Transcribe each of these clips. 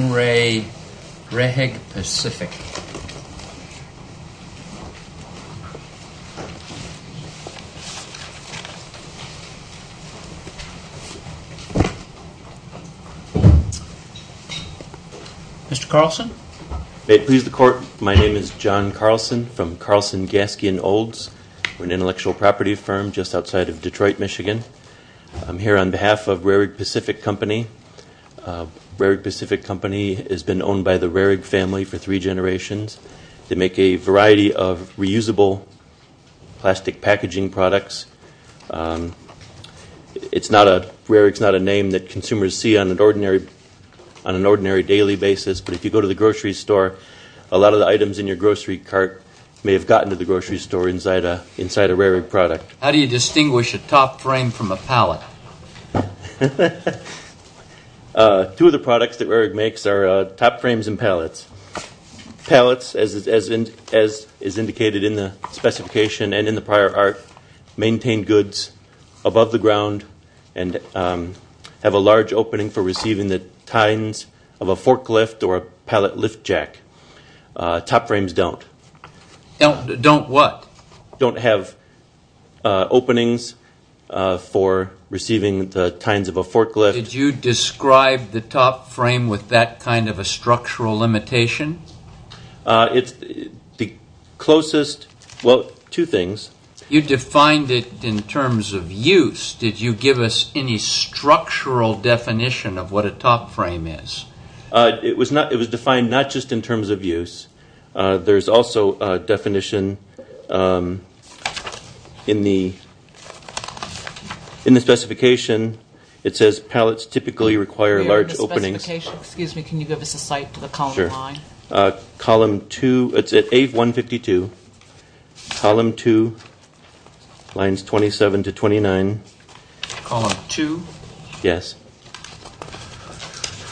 JOHN REHRIG PACIFIC Mr. Carlson. May it please the court, my name is John Carlson from Carlson, Gaskin, Olds, an intellectual property firm just outside of Detroit, Michigan. I'm here on behalf of Rehrig Pacific Company. Rehrig Pacific Company has been owned by the Rehrig family for three generations. They make a variety of reusable plastic packaging products. It's not a, Rehrig's not a name that consumers see on an ordinary daily basis. But if you go to the grocery store, a lot of the items in your grocery cart may have gotten to the grocery store inside a Rehrig product. How do you distinguish a top frame from a pallet? Two of the products that Rehrig makes are top frames and pallets. Pallets, as is indicated in the specification and in the prior art, maintain goods above the ground and have a large opening for receiving the tines of a forklift or a pallet lift jack. Top frames don't. Don't what? Don't have openings for receiving the tines of a forklift. Did you describe the top frame with that kind of a structural limitation? It's the closest, well, two things. You defined it in terms of use. Did you give us any structural definition of what a top frame is? It was defined not just in terms of use. There's also a definition in the specification. It says pallets typically require large openings. The specification, excuse me, can you give us a site for the column line? Column two, it's at A152. Column two, lines 27 to 29. Column two? Yes.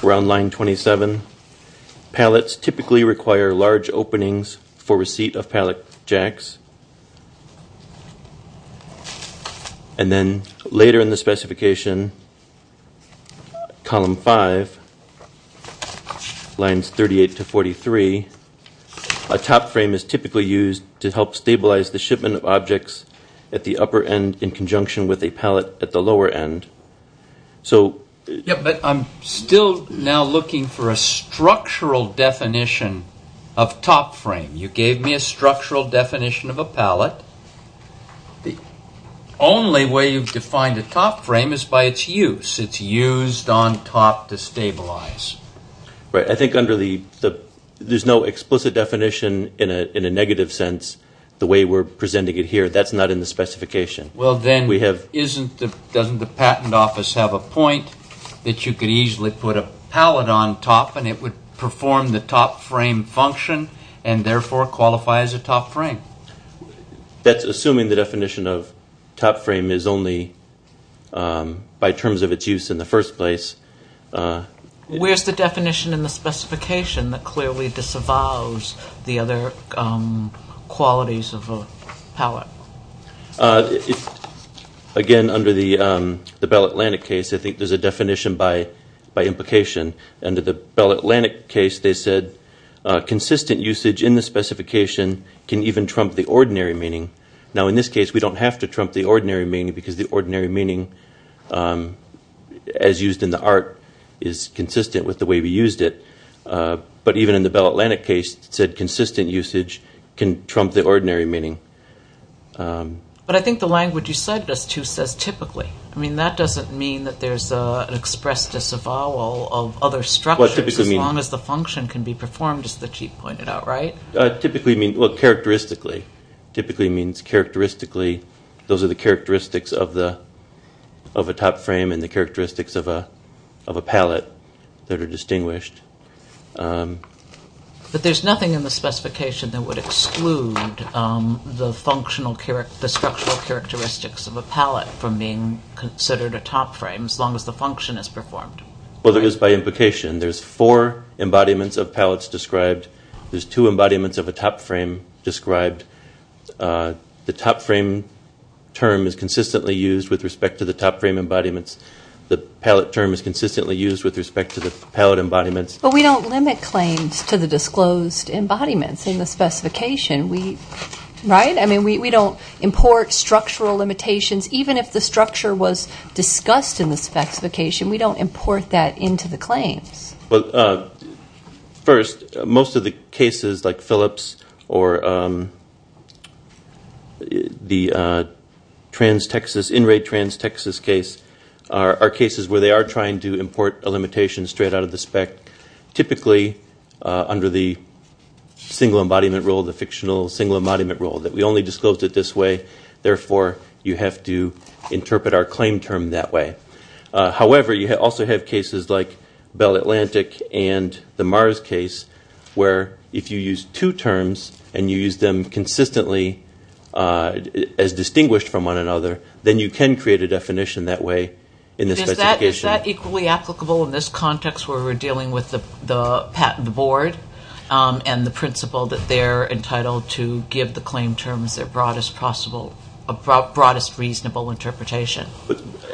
We're on line 27. Pallets typically require large openings for receipt of pallet jacks. And then later in the specification, column five, lines 38 to 43. A top frame is typically used to help stabilize the shipment of objects at the upper end in conjunction with a pallet at the lower end. So. But I'm still now looking for a structural definition of top frame. You gave me a structural definition of a pallet. The only way you've defined a top frame is by its use. It's used on top to stabilize. Right. I think under the, there's no explicit definition in a negative sense, the way we're presenting it here. That's not in the specification. Well then, isn't the, doesn't the patent office have a point that you could easily put a pallet on top and it would perform the top frame function and therefore qualify as a top frame? That's assuming the definition of top frame is only by terms of its use in the first place. Where's the definition in the specification Again, under the Bell Atlantic case, I think there's a definition by implication. Under the Bell Atlantic case, they said consistent usage in the specification can even trump the ordinary meaning. Now in this case, we don't have to trump the ordinary meaning because the ordinary meaning, as used in the art, is consistent with the way we used it. But even in the Bell Atlantic case, it said consistent usage can trump the ordinary meaning. But I think the language you cited us to says typically. I mean, that doesn't mean that there's an express disavowal of other structures as long as the function can be performed as the chief pointed out, right? Typically means, well, characteristically. Typically means characteristically, those are the characteristics of a top frame and the characteristics of a pallet that are distinguished. But there's nothing in the specification that would exclude the structural characteristics of a pallet from being considered a top frame as long as the function is performed. Well, there is by implication. There's four embodiments of pallets described. There's two embodiments of a top frame described. The top frame term is consistently used with respect to the top frame embodiments. The pallet term is consistently used with respect to the pallet embodiments. But we don't limit claims to the disclosed embodiments in the specification, right? I mean, we don't import structural limitations. Even if the structure was discussed in the specification, we don't import that into the claims. Well, first, most of the cases like Phillips or the trans-Texas, in-rate trans-Texas case are cases where they are trying to import a limitation straight out of the spec. Typically, under the single embodiment rule, the fictional single embodiment rule that we only disclosed it this way, therefore, you have to interpret our claim term that way. However, you also have cases like Bell Atlantic and the Mars case where if you use two terms and you use them consistently as distinguished from one another, then you can create a definition that way in the specification. Is that equally applicable in this context where we're dealing with the board and the principle that they're entitled to give the claim terms their broadest possible, broadest reasonable interpretation?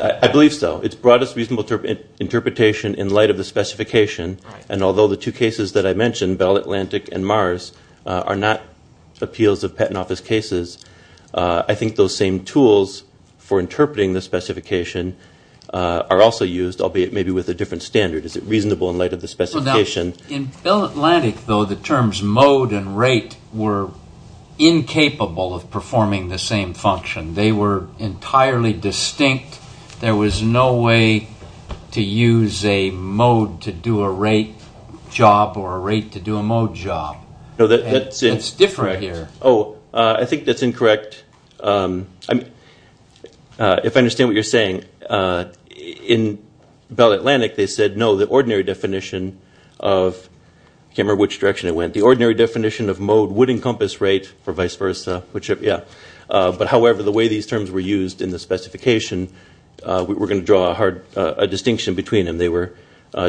I believe so. It's broadest reasonable interpretation in light of the specification. And although the two cases that I mentioned, Bell Atlantic and Mars, are not appeals of patent office cases. I think those same tools for interpreting the specification are also used, albeit maybe with a different standard. Is it reasonable in light of the specification? In Bell Atlantic, though, the terms mode and rate were incapable of performing the same function. They were entirely distinct. There was no way to use a mode to do a rate job or a rate to do a mode job. It's different here. Oh, I think that's incorrect. If I understand what you're saying, in Bell Atlantic, they said, no, the ordinary definition of, I can't remember which direction it went, the ordinary definition of mode would encompass rate or vice versa, which, yeah. But however, the way these terms were used in the specification, we're going to draw a distinction between them. They were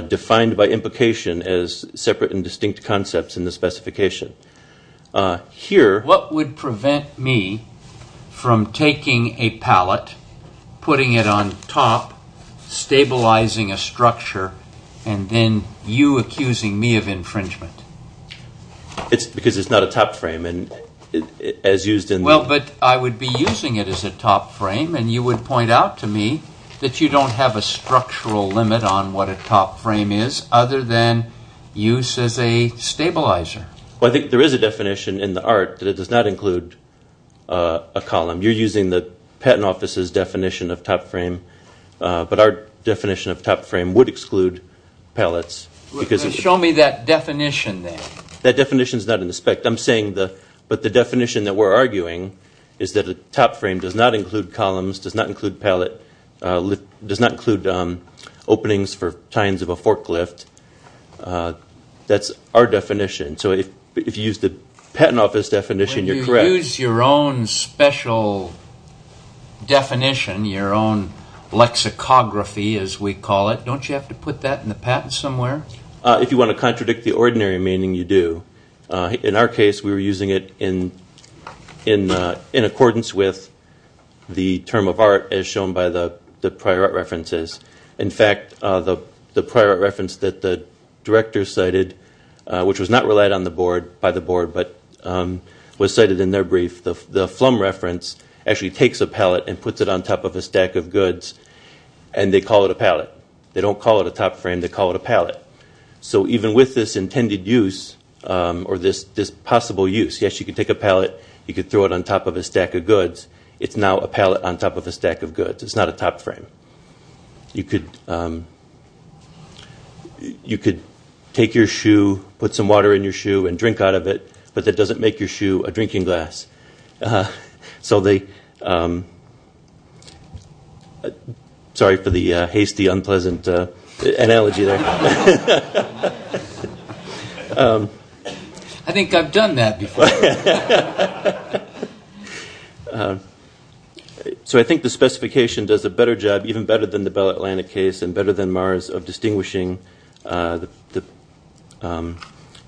defined by implication as separate and distinct concepts in the specification. Here. What would prevent me from taking a pallet, putting it on top, stabilizing a structure, and then you accusing me of infringement? Because it's not a top frame, and as used in the. Well, but I would be using it as a top frame, and you would point out to me that you don't have a structural limit on what a top frame is, other than use as a stabilizer. Well, I think there is a definition in the art that it does not include a column. You're using the patent office's definition of top frame, but our definition of top frame would exclude pallets. Show me that definition, then. That definition's not in the spec. I'm saying the, but the definition that we're arguing is that a top frame does not include columns, does not include pallet, does not include openings for tines of a forklift. That's our definition. So if you use the patent office definition, you're correct. When you use your own special definition, your own lexicography, as we call it, don't you have to put that in the patent somewhere? If you want to contradict the ordinary meaning, you do. In our case, we were using it in accordance with the term of art as shown by the prior art references. In fact, the prior art reference that the director cited, which was not relied on the board, by the board, but was cited in their brief, the Flum reference actually takes a pallet and puts it on top of a stack of goods, and they call it a pallet. They don't call it a top frame. They call it a pallet. So even with this intended use or this possible use, yes, you could take a pallet, you could throw it on top of a stack of goods. It's now a pallet on top of a stack of goods. It's not a top frame. You could take your shoe, put some water in your shoe, and drink out of it, but that doesn't make your shoe a drinking glass. So they, sorry for the hasty, unpleasant analogy there. I think I've done that before. So I think the specification does a better job, even better than the Bell Atlantic case, and better than Mara's of distinguishing the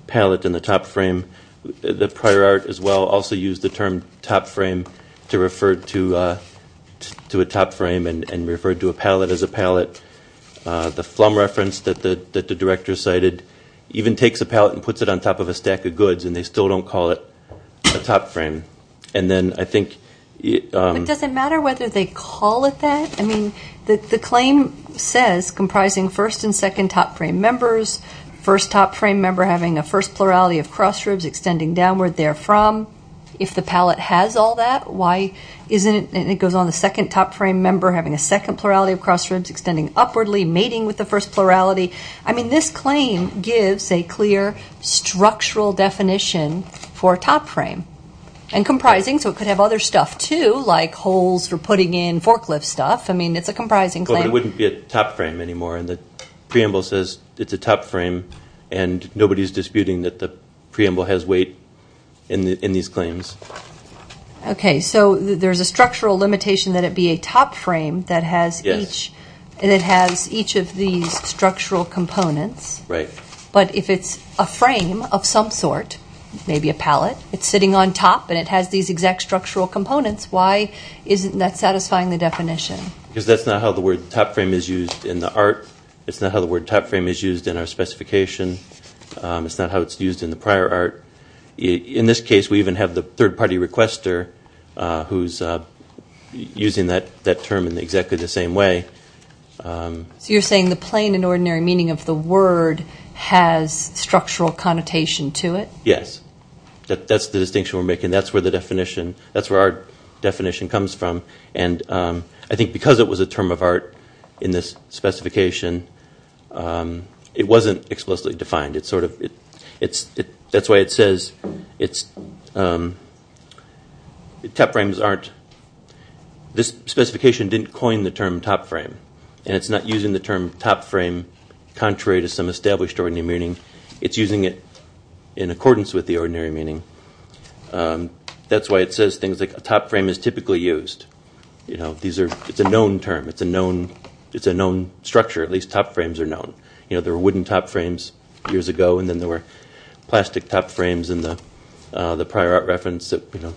pallet and the top frame. The prior art, as well, also used the term top frame to refer to a top frame and referred to a pallet as a pallet. The Flum reference that the director cited even takes a pallet and puts it on top of a stack of goods, and they still don't call it a top frame. And then I think. But does it matter whether they call it that? I mean, the claim says comprising first and second top frame members, first top frame member having a first plurality of cross ribs extending downward therefrom. If the pallet has all that, why isn't it, and it goes on, the second top frame member having a second plurality of cross ribs extending upwardly, mating with the first plurality. I mean, this claim gives a clear structural definition for top frame. And comprising, so it could have other stuff, too, like holes for putting in forklift stuff. I mean, it's a comprising claim. It wouldn't be a top frame anymore. And the preamble says it's a top frame, and nobody's disputing that the preamble has weight in these claims. Okay, so there's a structural limitation that it be a top frame that has each, and it has each of these structural components. Right. But if it's a frame of some sort, maybe a pallet, it's sitting on top, and it has these exact structural components, why isn't that satisfying the definition? Because that's not how the word top frame is used in the art. It's not how the word top frame is used in our specification. It's not how it's used in the prior art. In this case, we even have the third party requester who's using that term in exactly the same way. So you're saying the plain and ordinary meaning of the word has structural connotation to it? Yes. That's the distinction we're making. That's where the definition, that's where our definition comes from. And I think because it was a term of art in this specification, it wasn't explicitly defined. It's sort of, it's, that's why it says it's, top frames aren't, this specification didn't coin the term top frame, and it's not using the term top frame contrary to some established ordinary meaning. It's using it in accordance with the ordinary meaning. That's why it says things like a top frame is typically used. You know, these are, it's a known term. It's a known, it's a known structure, at least top frames are known. You know, there were wooden top frames years ago, and then there were plastic top frames in the prior art reference that, you know,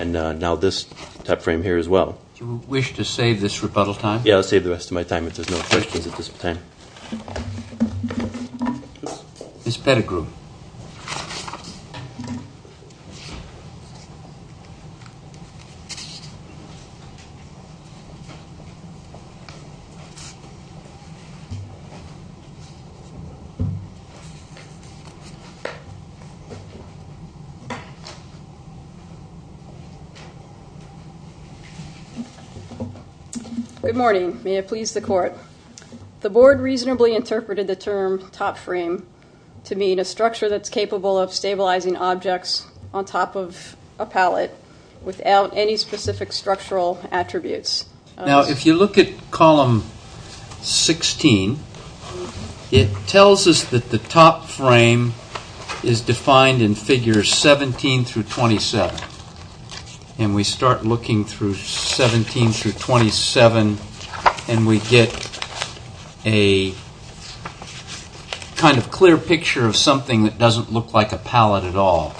and now this top frame here as well. Do you wish to save this rebuttal time? Yeah, I'll save the rest of my time if there's no questions at this time. Ms. Pettigrew. Good morning. The board reasonably interpreted the term top frame to mean a structure that's capable of stabilizing objects on top of a pallet without any specific structural attributes. Now, if you look at column 16, it tells us that the top frame is defined in figures 17 through 27, and we start looking through 17 through 27, and we get a kind of clear picture of something that doesn't look like a pallet at all.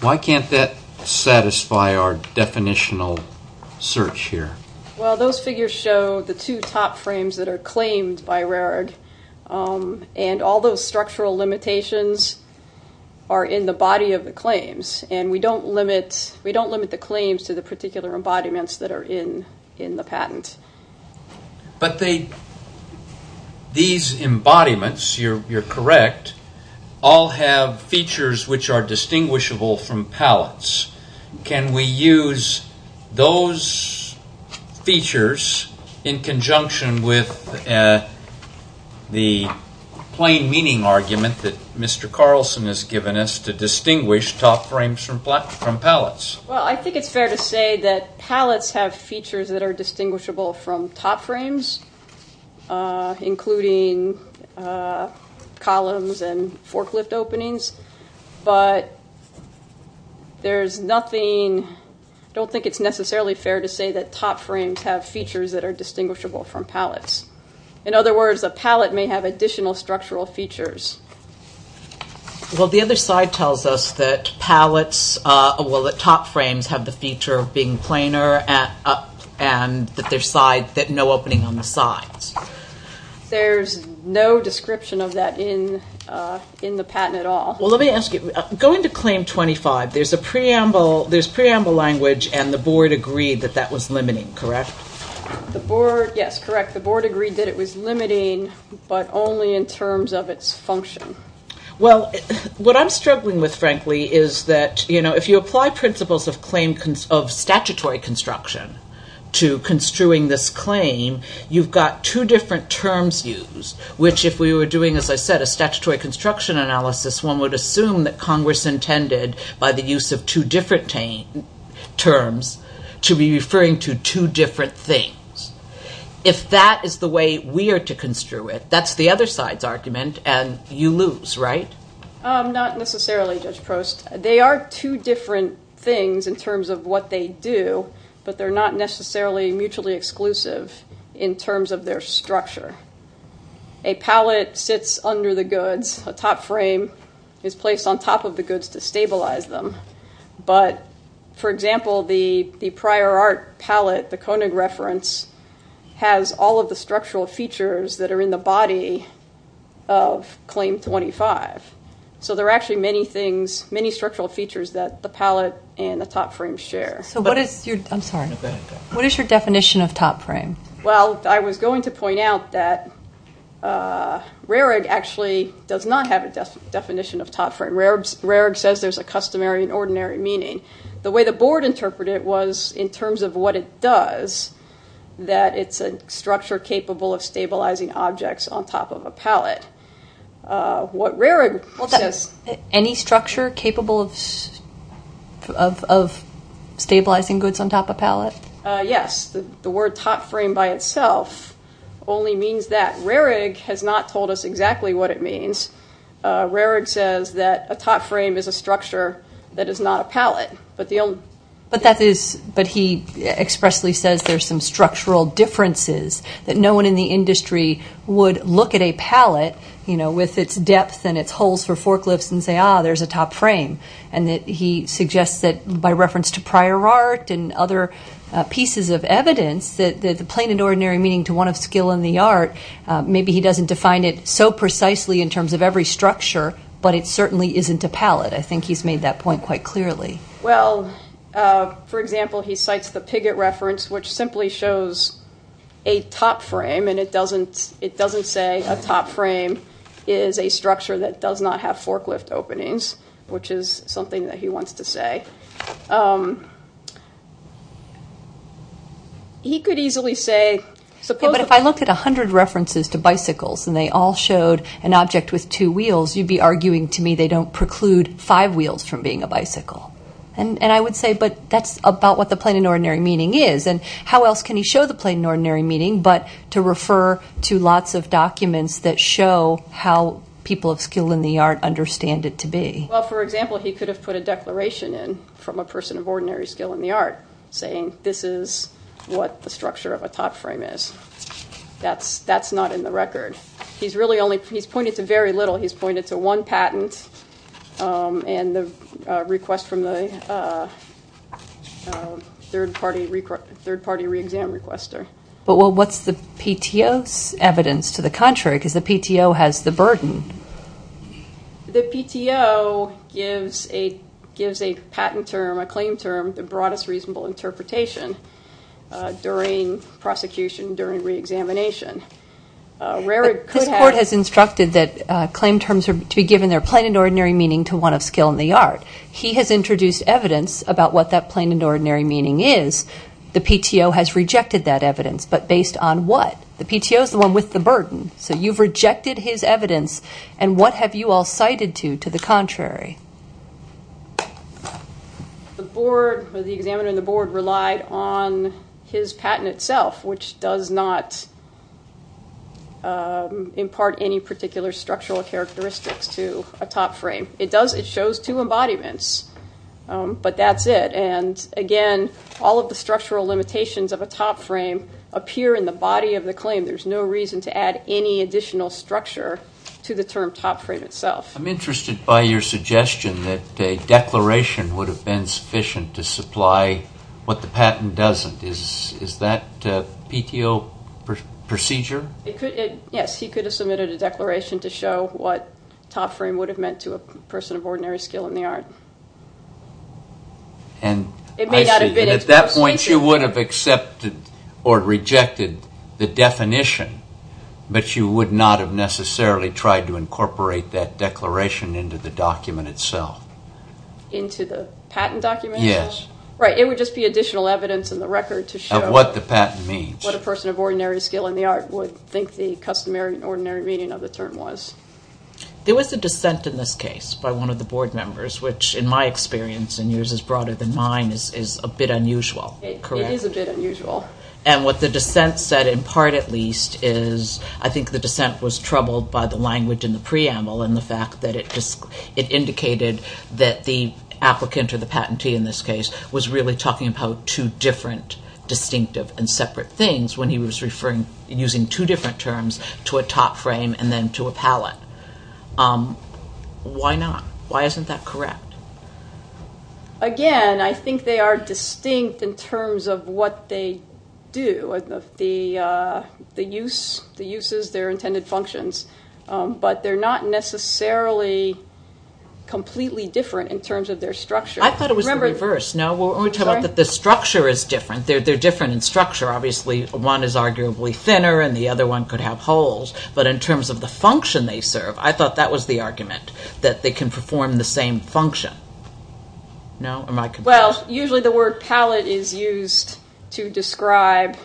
Why can't that satisfy our definitional search here? Well, those figures show the two top frames that are claimed by Rarid, and all those structural limitations are in the body of the claims, and we don't limit the claims to the particular embodiments that are in the patent. But these embodiments, you're correct, all have features which are distinguishable from pallets. Can we use those features in conjunction with the plain meaning argument that Mr. Carlson has given us to distinguish top frames from pallets? Well, I think it's fair to say that pallets have features that are distinguishable from top frames, including columns and forklift openings. But there's nothing, I don't think it's necessarily fair to say that top frames have features that are distinguishable from pallets. In other words, a pallet may have additional structural features. Well, the other side tells us that pallets, well, that top frames have the feature of being planar There's no description of that in the patent at all. Well, let me ask you, going to Claim 25, there's preamble language and the board agreed that that was limiting, correct? The board, yes, correct. The board agreed that it was limiting, but only in terms of its function. Well, what I'm struggling with, frankly, is that if you apply principles of statutory construction to construing this claim, you've got two different terms used, which if we were doing, as I said, a statutory construction analysis, one would assume that Congress intended, by the use of two different terms, to be referring to two different things. If that is the way we are to construe it, that's the other side's argument and you lose, right? Not necessarily, Judge Prost. They are two different things in terms of what they do, but they're not necessarily mutually exclusive in terms of their structure. A pallet sits under the goods, a top frame is placed on top of the goods to stabilize them. But, for example, the prior art pallet, the Koenig reference, has all of the structural features that are in the body of Claim 25. So, there are actually many things, many structural features that the pallet and the top frame share. So, what is your, I'm sorry, what is your definition of top frame? Well, I was going to point out that RERG actually does not have a definition of top frame. RERG says there's a customary and ordinary meaning. The way the board interpreted it was in terms of what it does, that it's a structure capable of stabilizing objects on top of a pallet. What RERG says. Well, any structure capable of stabilizing goods on top of a pallet? Yes. The word top frame by itself only means that. RERG has not told us exactly what it means. RERG says that a top frame is a structure that is not a pallet, but the only. But that is, but he expressly says there's some structural differences that no one in the industry would look at a pallet, you know, with its depth and its holes for forklifts and say, ah, there's a top frame. And that he suggests that by reference to prior art and other pieces of evidence that the plain and ordinary meaning to one of skill in the art, maybe he doesn't define it so precisely in terms of every structure, but it certainly isn't a pallet. I think he's made that point quite clearly. Well, for example, he cites the Piggott reference, which simply shows a top frame and it doesn't it doesn't say a top frame is a structure that does not have forklift openings, which is something that he wants to say. He could easily say. But if I looked at 100 references to bicycles and they all showed an object with two wheels, you'd be arguing to me they don't preclude five wheels from being a bicycle. And I would say, but that's about what the plain and ordinary meaning is. And how else can he show the plain and ordinary meaning, but to refer to lots of documents that show how people of skill in the art understand it to be? Well, for example, he could have put a declaration in from a person of ordinary skill in the art saying this is what the structure of a top frame is. That's that's not in the record. He's really only he's pointed to very little. He's pointed to one patent and the request from the third party, third party reexamined requester. But what's the PTO's evidence to the contrary? Because the PTO has the burden. The PTO gives a gives a patent term, a claim term, the broadest reasonable interpretation during prosecution, during reexamination. Rarely could have. This court has instructed that claim terms are to be given their plain and ordinary meaning to one of skill in the art. He has introduced evidence about what that plain and ordinary meaning is. The PTO has rejected that evidence. But based on what? The PTO is the one with the burden. So you've rejected his evidence. And what have you all cited to, to the contrary? The board, the examiner and the board relied on his patent itself, which does not impart any particular structural characteristics to a top frame. It does, it shows two embodiments. But that's it. And again, all of the structural limitations of a top frame appear in the body of the claim. There's no reason to add any additional structure to the term top frame itself. I'm interested by your suggestion that a declaration would have been sufficient to supply what the patent doesn't. Is, is that PTO procedure? It could, it, yes, he could have submitted a declaration to show what top frame would have meant to a person of ordinary skill in the art. And. It may not have been. At that point you would have accepted or rejected the definition. But you would not have necessarily tried to incorporate that declaration into the document itself. Into the patent document? Yes. Right, it would just be additional evidence in the record to show. Of what the patent means. What a person of ordinary skill in the art would think the customary and ordinary meaning of the term was. There was a dissent in this case by one of the board members, which in my experience and yours is broader than mine, is, is a bit unusual. It is a bit unusual. And what the dissent said in part at least is I think the dissent was troubled by the language in the preamble and the fact that it, it indicated that the applicant or the patentee in this case was really talking about two different distinctive and separate things when he was referring, using two different terms to a top frame and then to a palette. Why not? Why isn't that correct? Again, I think they are distinct in terms of what they do. The use, the uses, their intended functions. But they're not necessarily completely different in terms of their structure. I thought it was the reverse. No, we're talking about that the structure is different. They're, they're different in structure. Obviously one is arguably thinner and the other one could have holes. That they can perform the same function. No, am I confused? Well, usually the word palette is used to describe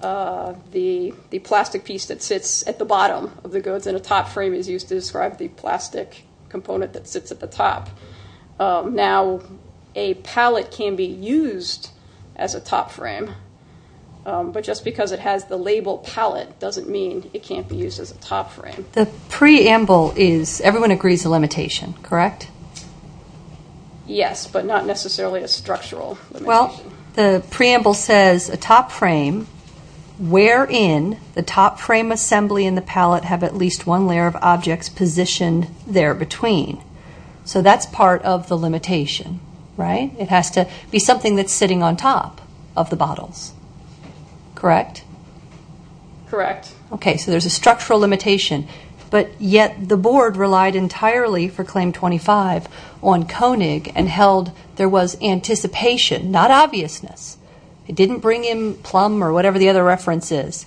the, the plastic piece that sits at the bottom of the goods and a top frame is used to describe the plastic component that sits at the top. Now a palette can be used as a top frame. But just because it has the label palette doesn't mean it can't be used as a top frame. The preamble is, everyone agrees the limitation, correct? Yes, but not necessarily a structural limitation. Well, the preamble says a top frame wherein the top frame assembly and the palette have at least one layer of objects positioned there between. So that's part of the limitation, right? It has to be something that's sitting on top of the bottles, correct? Correct. Okay, so there's a structural limitation. But yet the board relied entirely for claim 25 on Koenig and held there was anticipation, not obviousness. It didn't bring in plum or whatever the other reference is.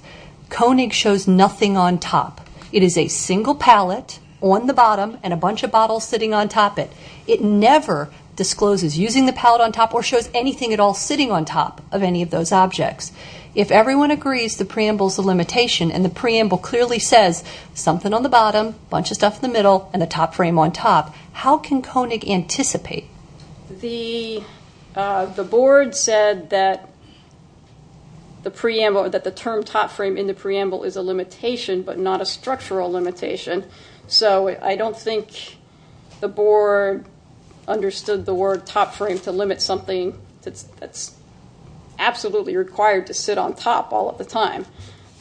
Koenig shows nothing on top. It is a single palette on the bottom and a bunch of bottles sitting on top it. It never discloses using the palette on top or shows anything at all sitting on top of any of those objects. If everyone agrees the preamble is a limitation and the preamble clearly says something on the bottom, bunch of stuff in the middle, and the top frame on top, how can Koenig anticipate? The board said that the term top frame in the preamble is a limitation but not a structural limitation. So I don't think the board understood the word top frame to limit something that's absolutely required to sit on top all of the time.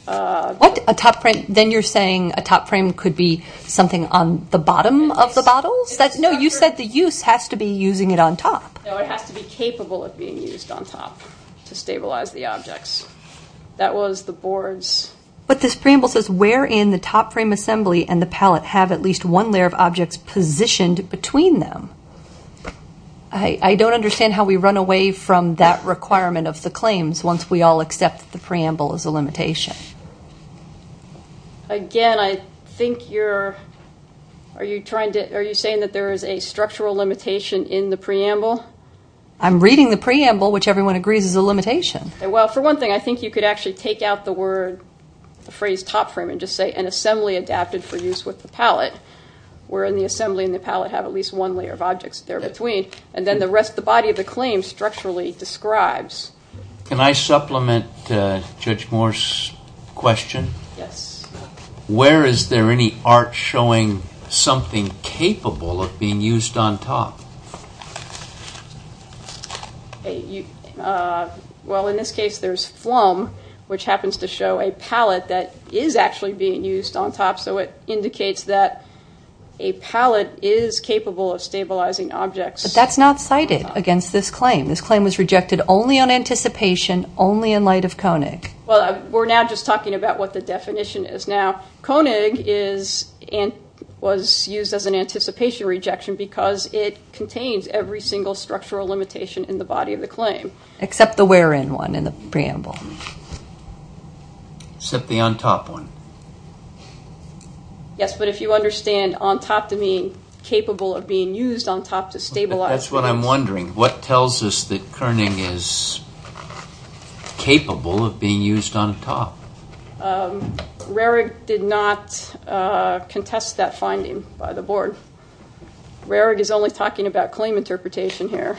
What? A top frame? Then you're saying a top frame could be something on the bottom of the bottles? No, you said the use has to be using it on top. No, it has to be capable of being used on top to stabilize the objects. That was the board's. But this preamble says where in the top frame assembly and the palette have at least one layer of objects positioned between them. I don't understand how we run away from that requirement of the claims once we all accept the preamble is a limitation. Again, I think you're, are you trying to, are you saying that there is a structural limitation in the preamble? I'm reading the preamble which everyone agrees is a limitation. Well, for one thing, I think you could actually take out the word, the phrase top frame and just say an assembly adapted for use with the palette. Where in the assembly and the palette have at least one layer of objects there between. And then the rest, the body of the claim structurally describes. Can I supplement Judge Moore's question? Yes. Where is there any art showing something capable of being used on top? Well, in this case, there's flum which happens to show a palette that is actually being used on top. So it indicates that a palette is capable of stabilizing objects. But that's not cited against this claim. This claim was rejected only on anticipation, only in light of Koenig. Well, we're now just talking about what the definition is now. Koenig is, was used as an anticipation rejection because it contains every single structural limitation in the body of the claim. Except the where in one in the preamble. Except the on top one. Yes, but if you understand on top to mean capable of being used on top to stabilize. That's what I'm wondering. What tells us that Koenig is capable of being used on top? Rarig did not contest that finding by the board. Rarig is only talking about claim interpretation here.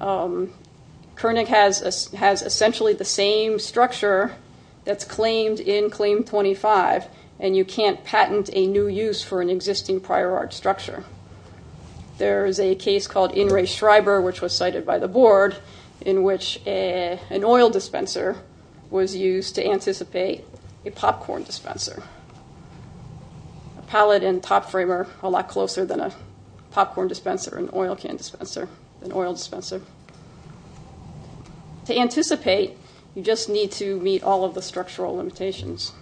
Koenig has essentially the same structure that's claimed in claim 25. And you can't patent a new use for an existing prior art structure. There's a case called In Re Schreiber which was cited by the board in which an oil dispenser was used to anticipate a popcorn dispenser. A palette and top framer are a lot closer than a popcorn dispenser and oil can dispenser than oil dispenser. To anticipate, you just need to meet all of the structural limitations.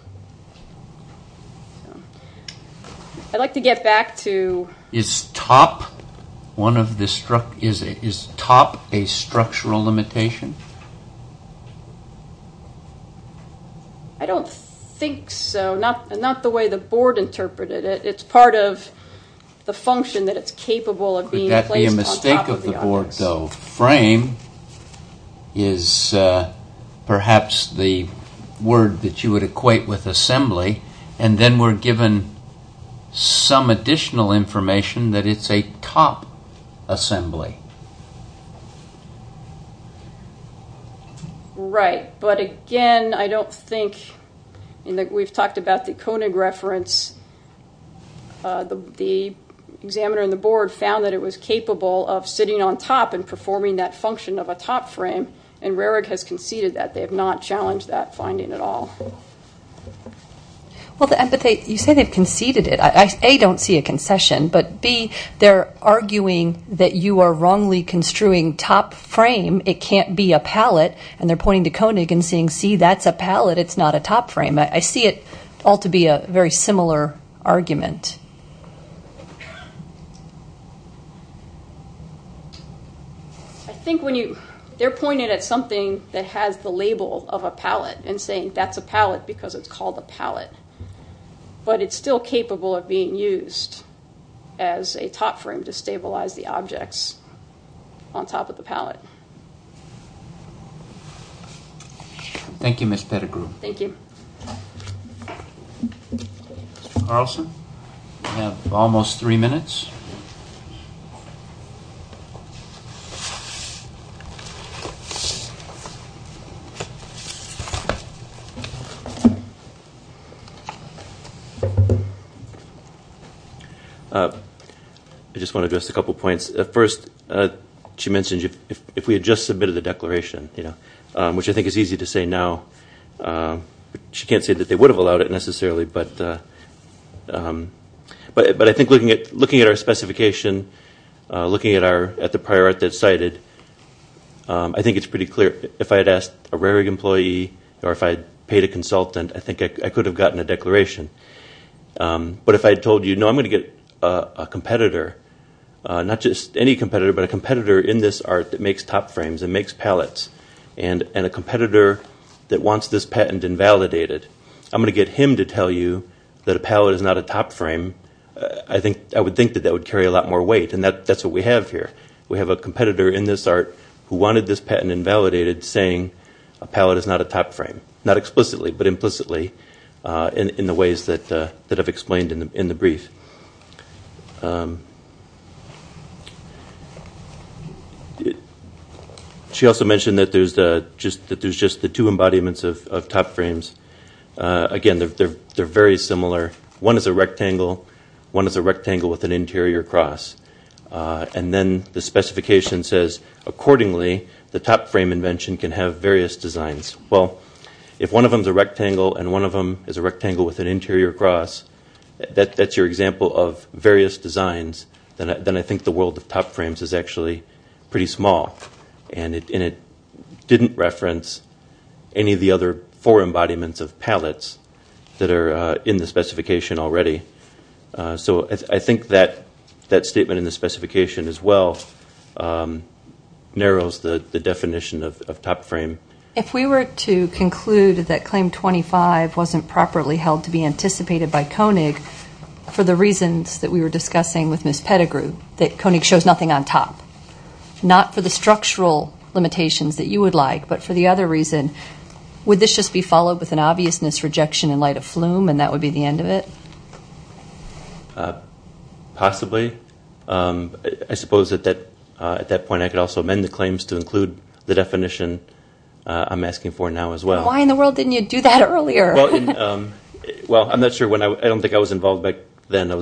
I'd like to get back to. Is top one of the, is top a structural limitation? I don't think so. Not the way the board interpreted it. It's part of the function that it's capable of being placed on top of the others. Could that be a mistake of the board though? Frame is perhaps the word that you would equate with assembly and then we're given some additional information that it's a top assembly. Right. But again, I don't think, and we've talked about the Koenig reference, the examiner and the board found that it was capable of sitting on top and performing that function of a top frame. And Rarig has conceded that they have not challenged that finding at all. Well, but they, you say they've conceded it. I, A, don't see a concession, but B, they're arguing that you are wrongly construing top frame. It can't be a palette and they're pointing to Koenig and saying see that's a palette, it's not a top frame. I see it all to be a very similar argument. I think when you, they're pointing at something that has the label of a palette and saying that's a palette because it's called a palette. But it's still capable of being used as a top frame to stabilize the objects on top of the palette. Thank you, Ms. Pettigrew. Thank you. Mr. Carlson, you have almost three minutes. I just want to address a couple points. First, she mentioned if we had just submitted the declaration, you know, which I think is easy to say now. She can't say that they would have allowed it necessarily, but I think looking at our specification, looking at the prior art that's cited, I think it's pretty clear. If I had asked a Rarieg employee or if I had paid a consultant, I think I could have gotten a declaration. But if I had told you, no, I'm going to get a competitor, not just any competitor, but a competitor in this art that makes top frames and makes palettes. And a competitor that wants this patent invalidated, I'm going to get him to tell you that a palette is not a top frame. I would think that that would carry a lot more weight. And that's what we have here. We have a competitor in this art who wanted this patent invalidated saying, a palette is not a top frame. Not explicitly, but implicitly in the ways that I've explained in the brief. She also mentioned that there's just the two embodiments of top frames. Again, they're very similar. One is a rectangle, one is a rectangle with an interior cross. And then the specification says, accordingly, the top frame invention can have various designs. Well, if one of them is a rectangle and one of them is a rectangle with an interior cross, that's your example. If that's your example of various designs, then I think the world of top frames is actually pretty small. And it didn't reference any of the other four embodiments of palettes that are in the specification already. So I think that statement in the specification as well narrows the definition of top frame. If we were to conclude that claim 25 wasn't properly held to be anticipated by Koenig for the reasons that we were discussing with Ms. Pettigrew, that Koenig shows nothing on top, not for the structural limitations that you would like, but for the other reason, would this just be followed with an obviousness rejection in light of flume and that would be the end of it? Possibly. I suppose at that point I could also amend the claims to include the definition that I'm asking for now as well. Why in the world didn't you do that earlier? Well, I don't think I was involved back then. I'm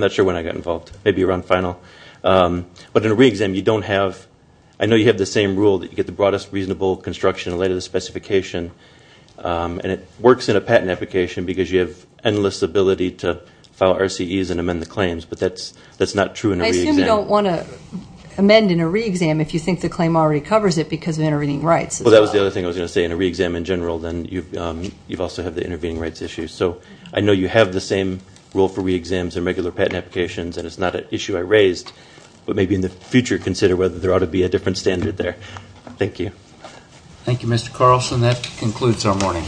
not sure when I got involved. Maybe around final. But in a re-exam, I know you have the same rule, that you get the broadest reasonable construction in light of the specification. And it works in a patent application because you have endless ability to file RCEs and amend the claims, but that's not true in a re-exam. I assume you don't want to amend in a re-exam if you think the claim already covers it because of intervening rights as well. Well, that was the other thing I was going to say. In a re-exam in general, then you also have the intervening rights issue. So I know you have the same rule for re-exams and regular patent applications, and it's not an issue I raised, but maybe in the future consider whether there ought to be a different standard there. Thank you. Thank you, Mr. Carlson. That concludes our morning.